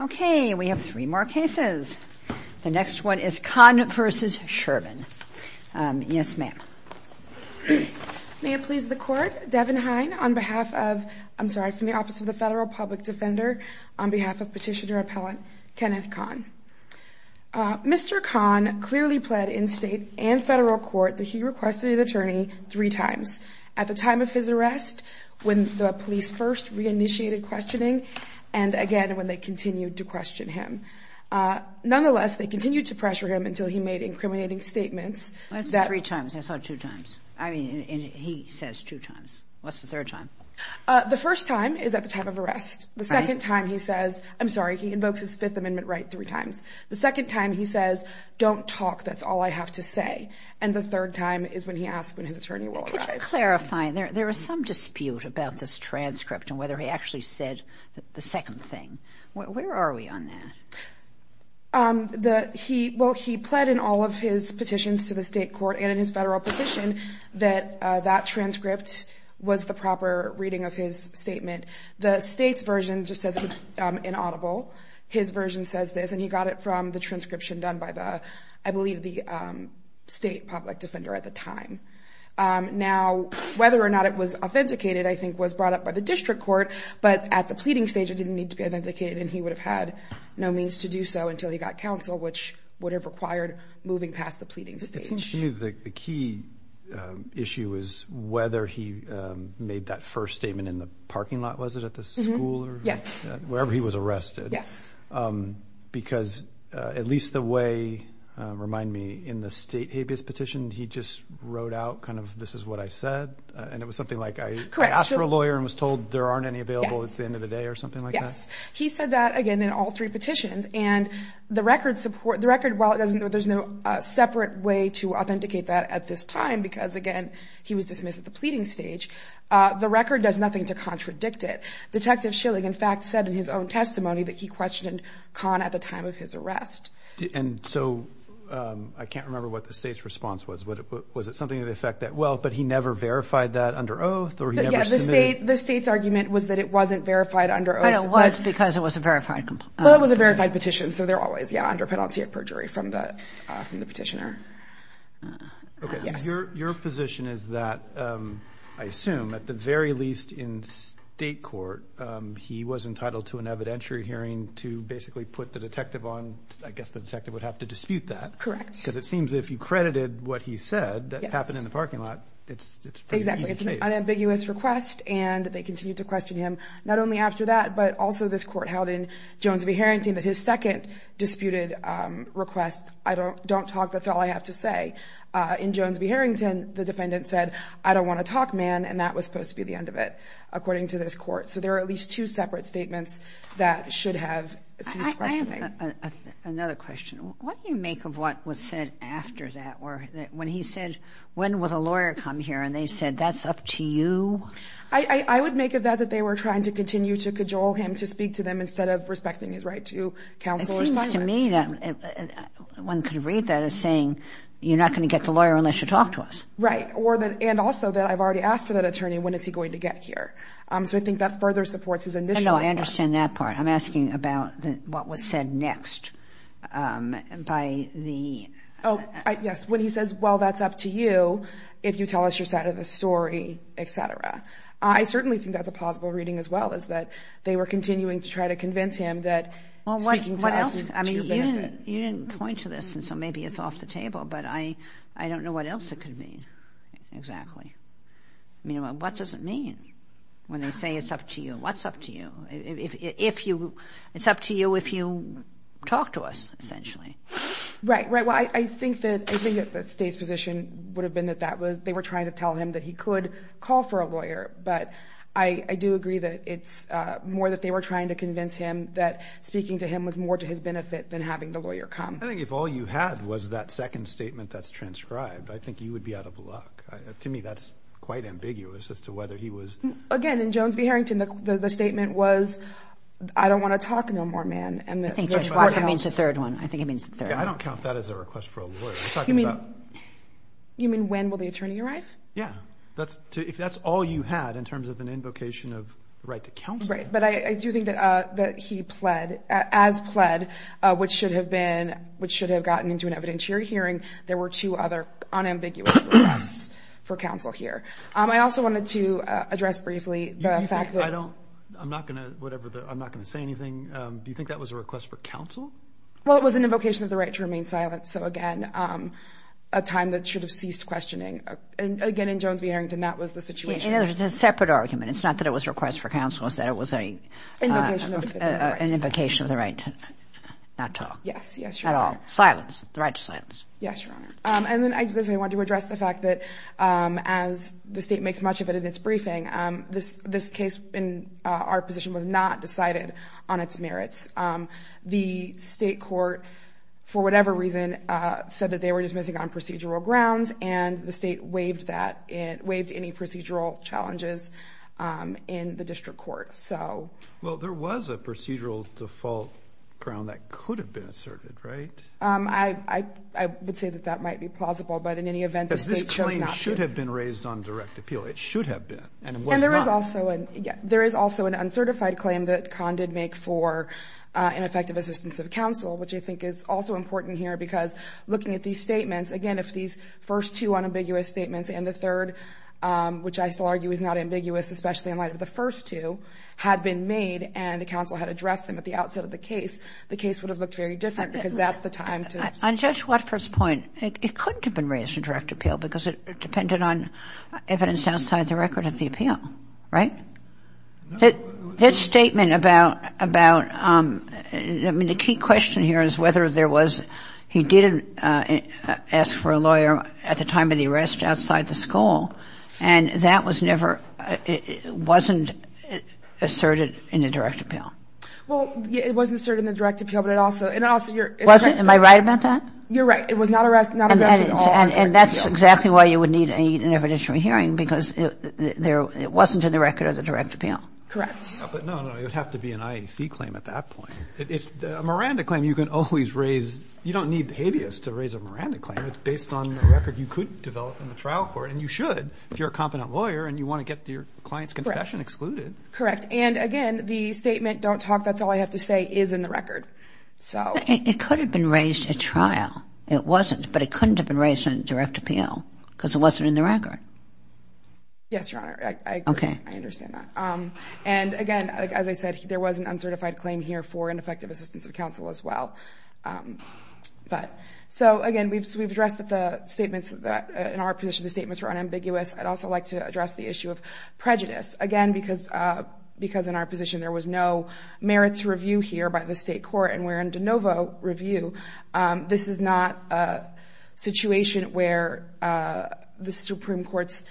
Okay, we have three more cases. The next one is Kon v. Sherman. Yes, ma'am. May it please the Court, Devin Hine on behalf of, I'm sorry, from the Office of the Federal Public Defender, on behalf of Petitioner Appellant Kenneth Kon. Mr. Kon clearly pled in state and federal court that he requested an attorney three times. At the time of his arrest, when the police first re-initiated questioning, and again when they continued to question him. Nonetheless, they continued to pressure him until he made incriminating statements. That's three times. I thought two times. I mean, he says two times. What's the third time? The first time is at the time of arrest. The second time he says, I'm sorry, he invokes his Fifth Amendment right three times. The second time he says, don't talk, that's all I have to say. And the third time is when he asks when his attorney will arrive. Clarifying, there is some dispute about this transcript and whether he actually said the second thing. Where are we on that? Well, he pled in all of his petitions to the state court and in his federal petition that that transcript was the proper reading of his statement. The state's version just says inaudible. His version says this. And he got it from the transcription done by the, I believe, the state public defender at the time. Now, whether or not it was authenticated, I think, was brought up by the district court. But at the pleading stage, it didn't need to be authenticated. And he would have had no means to do so until he got counsel, which would have required moving past the pleading stage. The key issue is whether he made that first statement in the parking lot, was it, at the school or wherever he was arrested. Yes. Because at least the way, remind me, in the state habeas petition, he just wrote out kind of this is what I said. And it was something like I asked for a lawyer and was told there aren't any available at the end of the day or something like that. Yes. He said that, again, in all three petitions. And the record support, the record, while it doesn't, there's no separate way to authenticate that at this time, because, again, he was dismissed at the pleading stage. The record does nothing to contradict it. Detective Schilling, in fact, said in his own testimony that he questioned Kahn at the time of his arrest. And so I can't remember what the state's response was. Was it something to the effect that, well, but he never verified that under oath or he never submitted. The state's argument was that it wasn't verified under oath. And it was because it was a verified complaint. Well, it was a verified petition. So they're always, yeah, under penalty of perjury from the petitioner. Your position is that, I assume, at the very least in state court, he was entitled to an evidentiary hearing to basically put the detective on. I guess the detective would have to dispute that. Correct. Because it seems if you credited what he said that happened in the parking lot, it's pretty easy case. Exactly. It's an unambiguous request. And they continue to question him not only after that, but also this Court held in Jones v. Harrington that his second disputed request, I don't talk, that's all I have to say. In Jones v. Harrington, the defendant said, I don't want to talk, man, and that was supposed to be the end of it, according to this Court. So there are at least two separate statements that should have his questioning. I have another question. What do you make of what was said after that? Or when he said, when will the lawyer come here? And they said, that's up to you? I would make of that that they were trying to continue to cajole him to speak to them instead of respecting his right to counsel or silence. It seems to me that one could read that as saying, you're not going to get the lawyer unless you talk to us. Right. And also that I've already asked for that attorney, when is he going to get here? So I think that further supports his initial request. No, I understand that part. I'm asking about what was said next by the ---- Oh, yes, when he says, well, that's up to you if you tell us your side of the story, et cetera. I certainly think that's a plausible reading as well, is that they were continuing to try to convince him that speaking to us is to your benefit. You didn't point to this, and so maybe it's off the table, but I don't know what else it could mean exactly. What does it mean when they say it's up to you? What's up to you? It's up to you if you talk to us, essentially. Right, right. Well, I think that the State's position would have been that they were trying to tell him that he could call for a lawyer. But I do agree that it's more that they were trying to convince him that speaking to him was more to his benefit than having the lawyer come. I think if all you had was that second statement that's transcribed, I think you would be out of luck. To me, that's quite ambiguous as to whether he was ---- Again, in Jones v. Harrington, the statement was, I don't want to talk no more, man. I think it means the third one. I don't count that as a request for a lawyer. You mean when will the attorney arrive? Yeah, if that's all you had in terms of an invocation of the right to counsel. Right, but I do think that he pled, as pled, which should have gotten into an evidentiary hearing. There were two other unambiguous requests for counsel here. I also wanted to address briefly the fact that ---- I'm not going to say anything. Do you think that was a request for counsel? Well, it was an invocation of the right to remain silent. So, again, a time that should have ceased questioning. Again, in Jones v. Harrington, that was the situation. In other words, it's a separate argument. It's not that it was a request for counsel. It's that it was an invocation of the right to not talk. Yes, yes, Your Honor. At all. Silence. The right to silence. Yes, Your Honor. And then I just want to address the fact that as the state makes much of it in its briefing, this case in our position was not decided on its merits. The state court, for whatever reason, said that they were dismissing on procedural grounds, and the state waived that, waived any procedural challenges in the district court. Well, there was a procedural default ground that could have been asserted, right? I would say that that might be plausible. But in any event, the state should not be. But this claim should have been raised on direct appeal. It should have been. And it was not. And there is also an uncertified claim that Conn did make for ineffective assistance of counsel, which I think is also important here because looking at these statements, again, if these first two unambiguous statements and the third, which I still argue is not ambiguous, especially in light of the first two, had been made and the counsel had addressed them at the outset of the case, the case would have looked very different because that's the time to. On Judge Watford's point, it couldn't have been raised in direct appeal because it depended on evidence outside the record of the appeal, right? That statement about, I mean, the key question here is whether there was, he did ask for a lawyer at the time of the arrest outside the school, and that was never, wasn't asserted in the direct appeal. Well, it wasn't asserted in the direct appeal, but it also, and also you're. Was it? Am I right about that? You're right. It was not addressed at all. And that's exactly why you would need an evidentiary hearing because it wasn't in the record of the direct appeal. Correct. But no, no, it would have to be an IEC claim at that point. It's a Miranda claim. You can always raise, you don't need habeas to raise a Miranda claim. It's based on the record you could develop in the trial court, and you should if you're a competent lawyer and you want to get your client's confession excluded. Correct. And, again, the statement, don't talk, that's all I have to say, is in the record. It could have been raised at trial. It wasn't, but it couldn't have been raised in direct appeal because it wasn't in the record. Yes, Your Honor. Okay. I understand that. And, again, as I said, there was an uncertified claim here for ineffective assistance of counsel as well. But, so, again, we've addressed that the statements in our position, the statements were unambiguous. I'd also like to address the issue of prejudice. Again, because in our position there was no merits review here by the state court, and we're in de novo review, this is not a situation where the Supreme Court's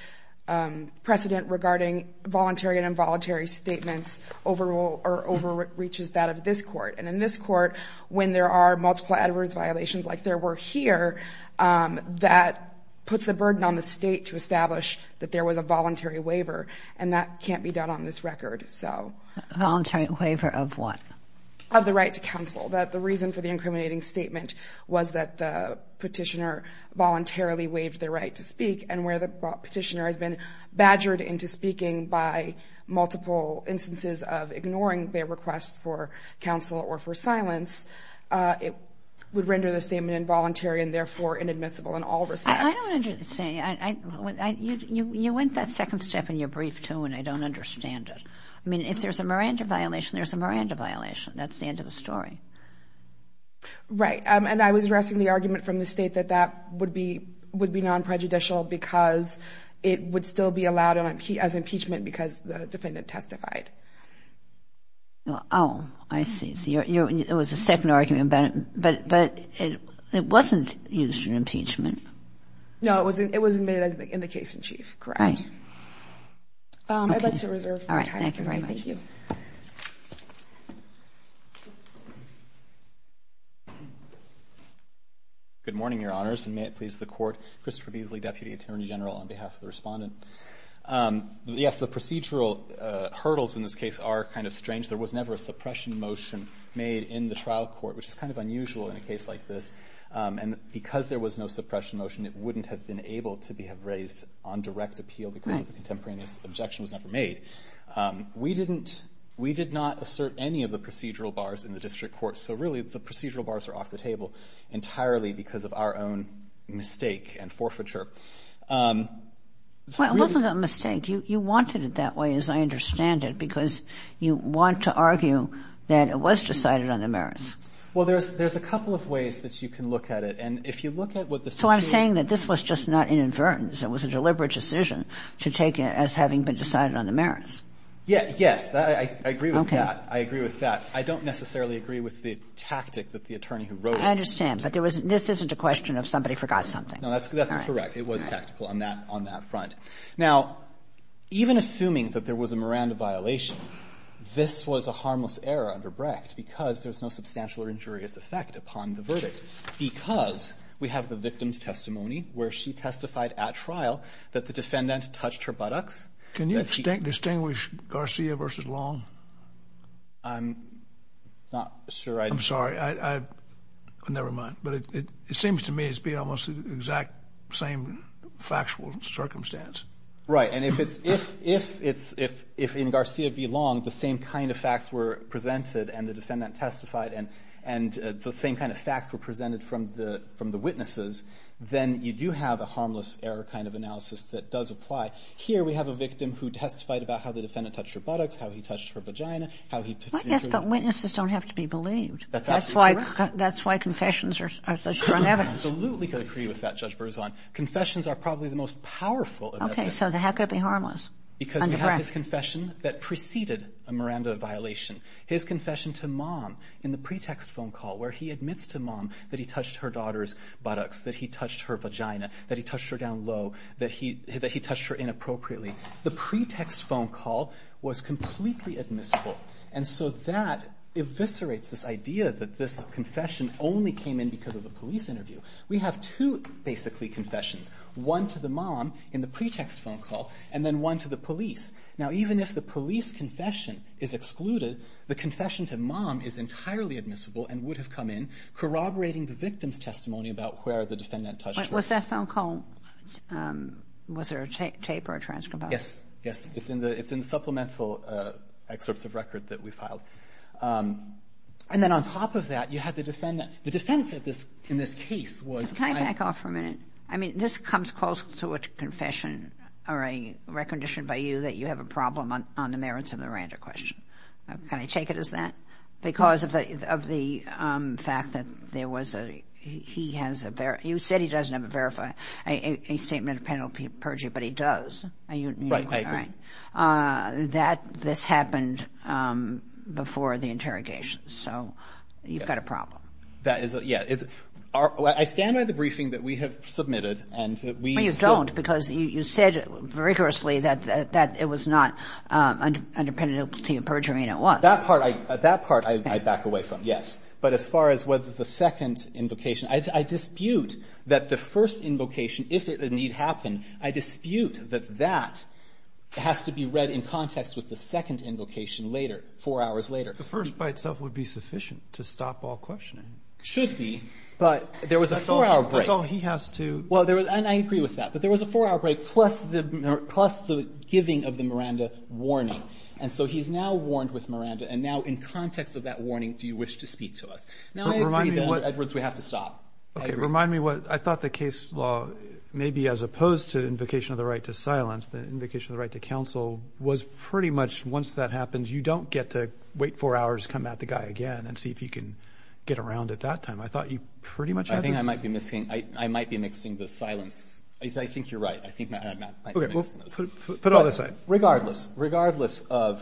precedent regarding voluntary and involuntary statements overruled or overreaches that of this court. And in this court, when there are multiple adverse violations like there were here, that puts a burden on the state to establish that there was a voluntary waiver, and that can't be done on this record. So. Voluntary waiver of what? Of the right to counsel. The reason for the incriminating statement was that the petitioner voluntarily waived the right to speak, and where the petitioner has been badgered into speaking by multiple instances of ignoring their request for counsel or for silence, it would render the statement involuntary and, therefore, inadmissible in all respects. I don't understand. You went that second step in your brief, too, and I don't understand it. I mean, if there's a Miranda violation, there's a Miranda violation. That's the end of the story. Right. And I was addressing the argument from the state that that would be non-prejudicial because it would still be allowed as impeachment because the defendant testified. Oh, I see. So it was a second argument, but it wasn't used in impeachment. No, it was made in the case in chief. Correct. Right. I'd like to reserve my time. All right. Thank you very much. Thank you. Good morning, Your Honors, and may it please the Court. Christopher Beasley, Deputy Attorney General, on behalf of the Respondent. Yes, the procedural hurdles in this case are kind of strange. There was never a suppression motion made in the trial court, which is kind of unusual in a case like this. And because there was no suppression motion, it wouldn't have been able to be raised on direct appeal because of the contemporaneous objection was never made. We didn't – we did not assert any of the procedural bars in the district court. So really, the procedural bars are off the table entirely because of our own mistake and forfeiture. Well, it wasn't a mistake. You wanted it that way, as I understand it, because you want to argue that it was decided on the merits. Well, there's – there's a couple of ways that you can look at it. And if you look at what the Supreme Court – So I'm saying that this was just not an inadvertence. It was a deliberate decision to take it as having been decided on the merits. Yes. I agree with that. I agree with that. I don't necessarily agree with the tactic that the attorney who wrote it – I understand. But there was – this isn't a question of somebody forgot something. No, that's correct. It was tactical on that – on that front. Now, even assuming that there was a Miranda violation, this was a harmless error under Brecht because there's no substantial or injurious effect upon the verdict because we have the victim's testimony where she testified at trial that the defendant touched her buttocks. Can you distinguish Garcia versus Long? I'm not sure I – I'm sorry. I – never mind. But it seems to me it's being almost the exact same factual circumstance. Right. And if it's – if in Garcia v. Long the same kind of facts were presented and the defendant testified and the same kind of facts were presented from the witnesses, then you do have a harmless error kind of analysis that does apply. Here we have a victim who testified about how the defendant touched her buttocks, how he touched her vagina, how he touched the – Well, yes, but witnesses don't have to be believed. That's absolutely correct. That's why confessions are such strong evidence. I absolutely could agree with that, Judge Berzon. Confessions are probably the most powerful of evidence. Okay. So how could it be harmless? Because we have his confession that preceded a Miranda violation. His confession to Mom in the pretext phone call where he admits to Mom that he touched her daughter's buttocks, that he touched her vagina, that he touched her down low, that he touched her inappropriately. The pretext phone call was completely admissible. And so that eviscerates this idea that this confession only came in because of the police interview. We have two, basically, confessions. One to the mom in the pretext phone call, and then one to the police. Now, even if the police confession is excluded, the confession to Mom is entirely admissible and would have come in corroborating the victim's testimony about where the defendant touched her. Was that phone call, was there a tape or a transcript of it? Yes. Yes. It's in the supplemental excerpts of record that we filed. And then on top of that, you had the defendant. The defense in this case was I – Can I back off for a minute? I mean, this comes close to a confession or a recognition by you that you have a problem on the merits of the Randa question. Can I take it as that? Because of the fact that there was a – he has a – you said he doesn't have a statement of penalty of perjury, but he does. Are you – Right, I agree. That this happened before the interrogation. So you've got a problem. That is a – yeah. I stand by the briefing that we have submitted and that we still – But you don't, because you said rigorously that it was not under penalty of perjury and it was. That part I back away from, yes. But as far as whether the second invocation, I dispute that the first invocation, if it did happen, I dispute that that has to be read in context with the second invocation later, four hours later. The first by itself would be sufficient to stop all questioning. It should be, but there was a four-hour break. That's all he has to – Well, and I agree with that. But there was a four-hour break plus the giving of the Miranda warning. And so he's now warned with Miranda. And now in context of that warning, do you wish to speak to us? Now I agree that, Edwards, we have to stop. Okay. Remind me what – I thought the case law maybe as opposed to invocation of the right to silence, the invocation of the right to counsel was pretty much once that four hours, come at the guy again and see if he can get around at that time. I thought you pretty much had this. I think I might be missing – I might be mixing the silence. I think you're right. I think Matt might have missed those. Okay. Well, put it on the side. Regardless, regardless of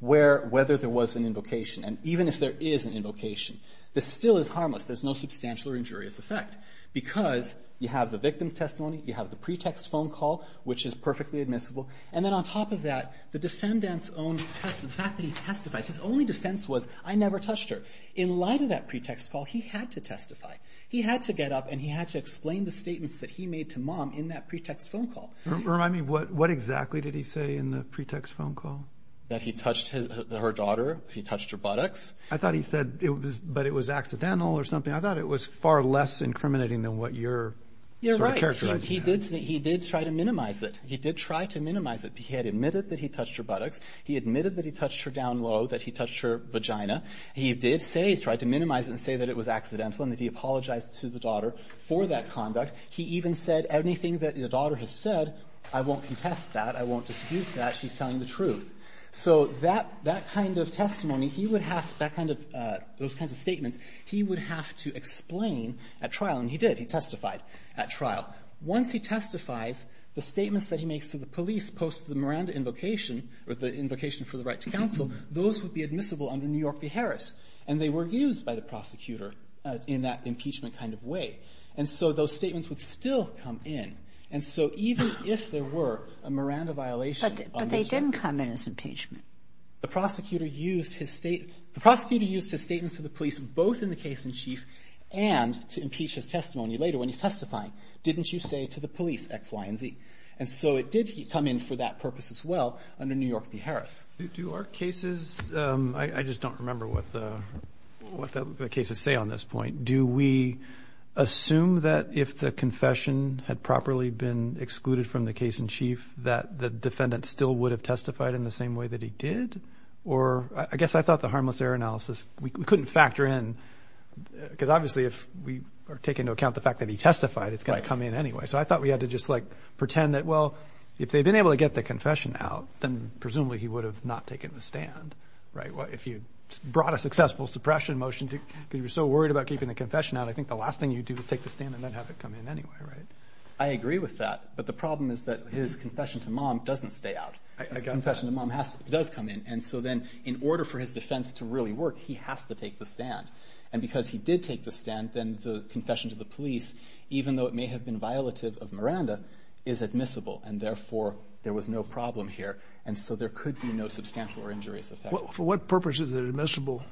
where – whether there was an invocation, and even if there is an invocation, this still is harmless. There's no substantial or injurious effect because you have the victim's testimony, you have the pretext phone call, which is perfectly admissible, and then on top of that, the defendant's own test – the fact that he testified – his only defense was, I never touched her. In light of that pretext call, he had to testify. He had to get up and he had to explain the statements that he made to mom in that pretext phone call. Remind me, what exactly did he say in the pretext phone call? That he touched her daughter, he touched her buttocks. I thought he said it was – but it was accidental or something. I thought it was far less incriminating than what you're sort of characterizing. You're right. He did try to minimize it. He did try to minimize it. He had admitted that he touched her buttocks. He admitted that he touched her down low, that he touched her vagina. He did say, he tried to minimize it and say that it was accidental and that he apologized to the daughter for that conduct. He even said anything that the daughter has said, I won't contest that, I won't dispute that, she's telling the truth. So that kind of testimony, he would have to – that kind of – those kinds of statements he would have to explain at trial. And he did. He testified at trial. Once he testifies, the statements that he makes to the police post the Miranda invocation, or the invocation for the right to counsel, those would be admissible under New York v. Harris. And they were used by the prosecutor in that impeachment kind of way. And so those statements would still come in. And so even if there were a Miranda violation on the – But they didn't come in as impeachment. The prosecutor used his – the prosecutor used his statements to the police both in the case in chief and to impeach his testimony later when he's testifying. Didn't you say to the police, X, Y, and Z? And so it did come in for that purpose as well under New York v. Harris. Do our cases – I just don't remember what the cases say on this point. Do we assume that if the confession had properly been excluded from the case in chief that the defendant still would have testified in the same way that he did? Or – I guess I thought the harmless error analysis – we couldn't factor in – because obviously if we are taking into account the fact that he testified, it's going to come in anyway. So I thought we had to just, like, pretend that, well, if they'd been able to get the confession out, then presumably he would have not taken the stand, right? If you brought a successful suppression motion to – because you were so worried about keeping the confession out, I think the last thing you'd do is take the stand and then have it come in anyway, right? I agree with that. But the problem is that his confession to mom doesn't stay out. His confession to mom has – does come in. And so then in order for his defense to really work, he has to take the stand. And because he did take the stand, then the confession to the police, even though it may have been violative of Miranda, is admissible. And therefore, there was no problem here. And so there could be no substantial or injurious effect. For what purpose is it admissible?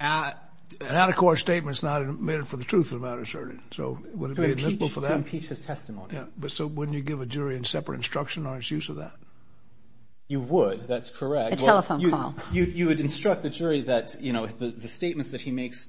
An out-of-court statement is not admitted for the truth of the matter, sir. So would it be admissible for that? To impeach his testimony. Yeah. But so wouldn't you give a jury a separate instruction on its use of that? You would. That's correct. A telephone call. You would instruct the jury that, you know, the statements that he makes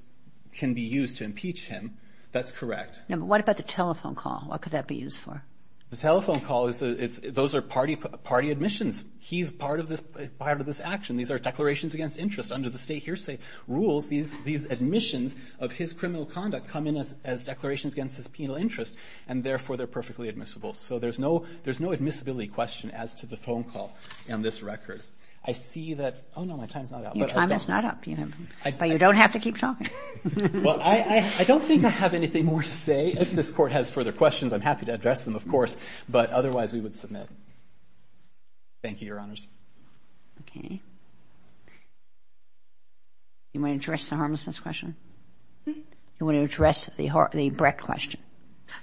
can be used to impeach him. That's correct. No, but what about the telephone call? What could that be used for? The telephone call is a – those are party admissions. He's part of this action. These are declarations against interest under the state hearsay rules. These admissions of his criminal conduct come in as declarations against his penal interest, and therefore, they're perfectly admissible. So there's no – there's no admissibility question as to the phone call on this record. I see that – oh, no, my time's not up. Your time is not up. But you don't have to keep talking. Well, I don't think I have anything more to say. If this Court has further questions, I'm happy to address them, of course. But otherwise, we would submit. Thank you, Your Honors. Okay. You want to address the harmlessness question? You want to address the Brecht question?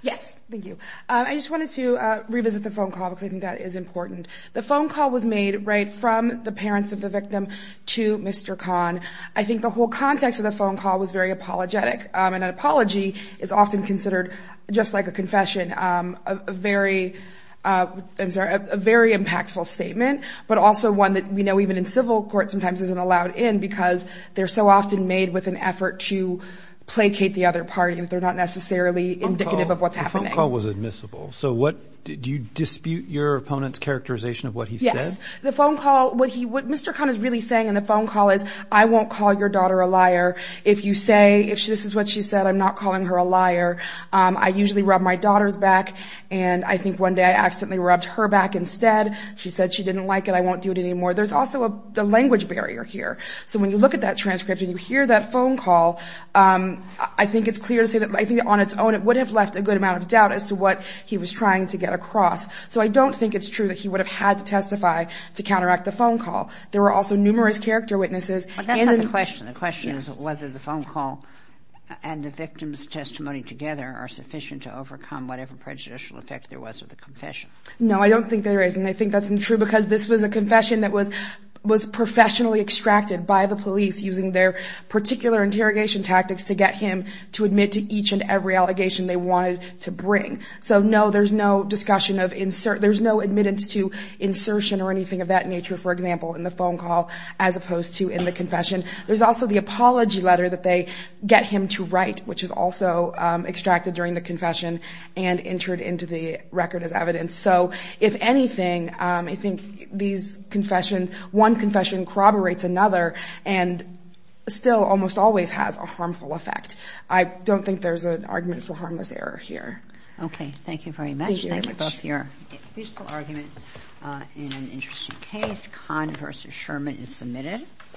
Yes. Thank you. I just wanted to revisit the phone call because I think that is important. The phone call was made right from the parents of the victim to Mr. Kahn. I think the whole context of the phone call was very apologetic. An apology is often considered, just like a confession, a very – I'm sorry – a very impactful statement, but also one that we know even in civil court sometimes isn't allowed in because they're so often made with an effort to placate the other party that they're not necessarily indicative of what's happening. The phone call was admissible. So what – do you dispute your opponent's characterization of what he said? Yes. The phone call – what Mr. Kahn is really saying in the phone call is, I won't call your daughter a liar. If you say – if this is what she said, I'm not calling her a liar. I usually rub my daughter's back, and I think one day I accidentally rubbed her back instead. She said she didn't like it. I won't do it anymore. There's also a language barrier here. So when you look at that transcript and you hear that phone call, I think it's clear to say that on its own it would have left a good amount of So I don't think it's true that he would have had to testify to counteract the phone call. There were also numerous character witnesses. But that's not the question. The question is whether the phone call and the victim's testimony together are sufficient to overcome whatever prejudicial effect there was with the confession. No, I don't think there is, and I think that's true because this was a confession that was professionally extracted by the police using their particular interrogation tactics to get him to admit to each and every allegation they wanted to bring. So, no, there's no discussion of insertion. There's no admittance to insertion or anything of that nature, for example, in the phone call as opposed to in the confession. There's also the apology letter that they get him to write, which is also extracted during the confession and entered into the record as evidence. So if anything, I think these confessions, one confession corroborates another and still almost always has a harmful effect. I don't think there's an argument for harmless error here. Okay. Thank you very much. Thank you both for your useful argument in an interesting case. Kahn v. Sherman is submitted.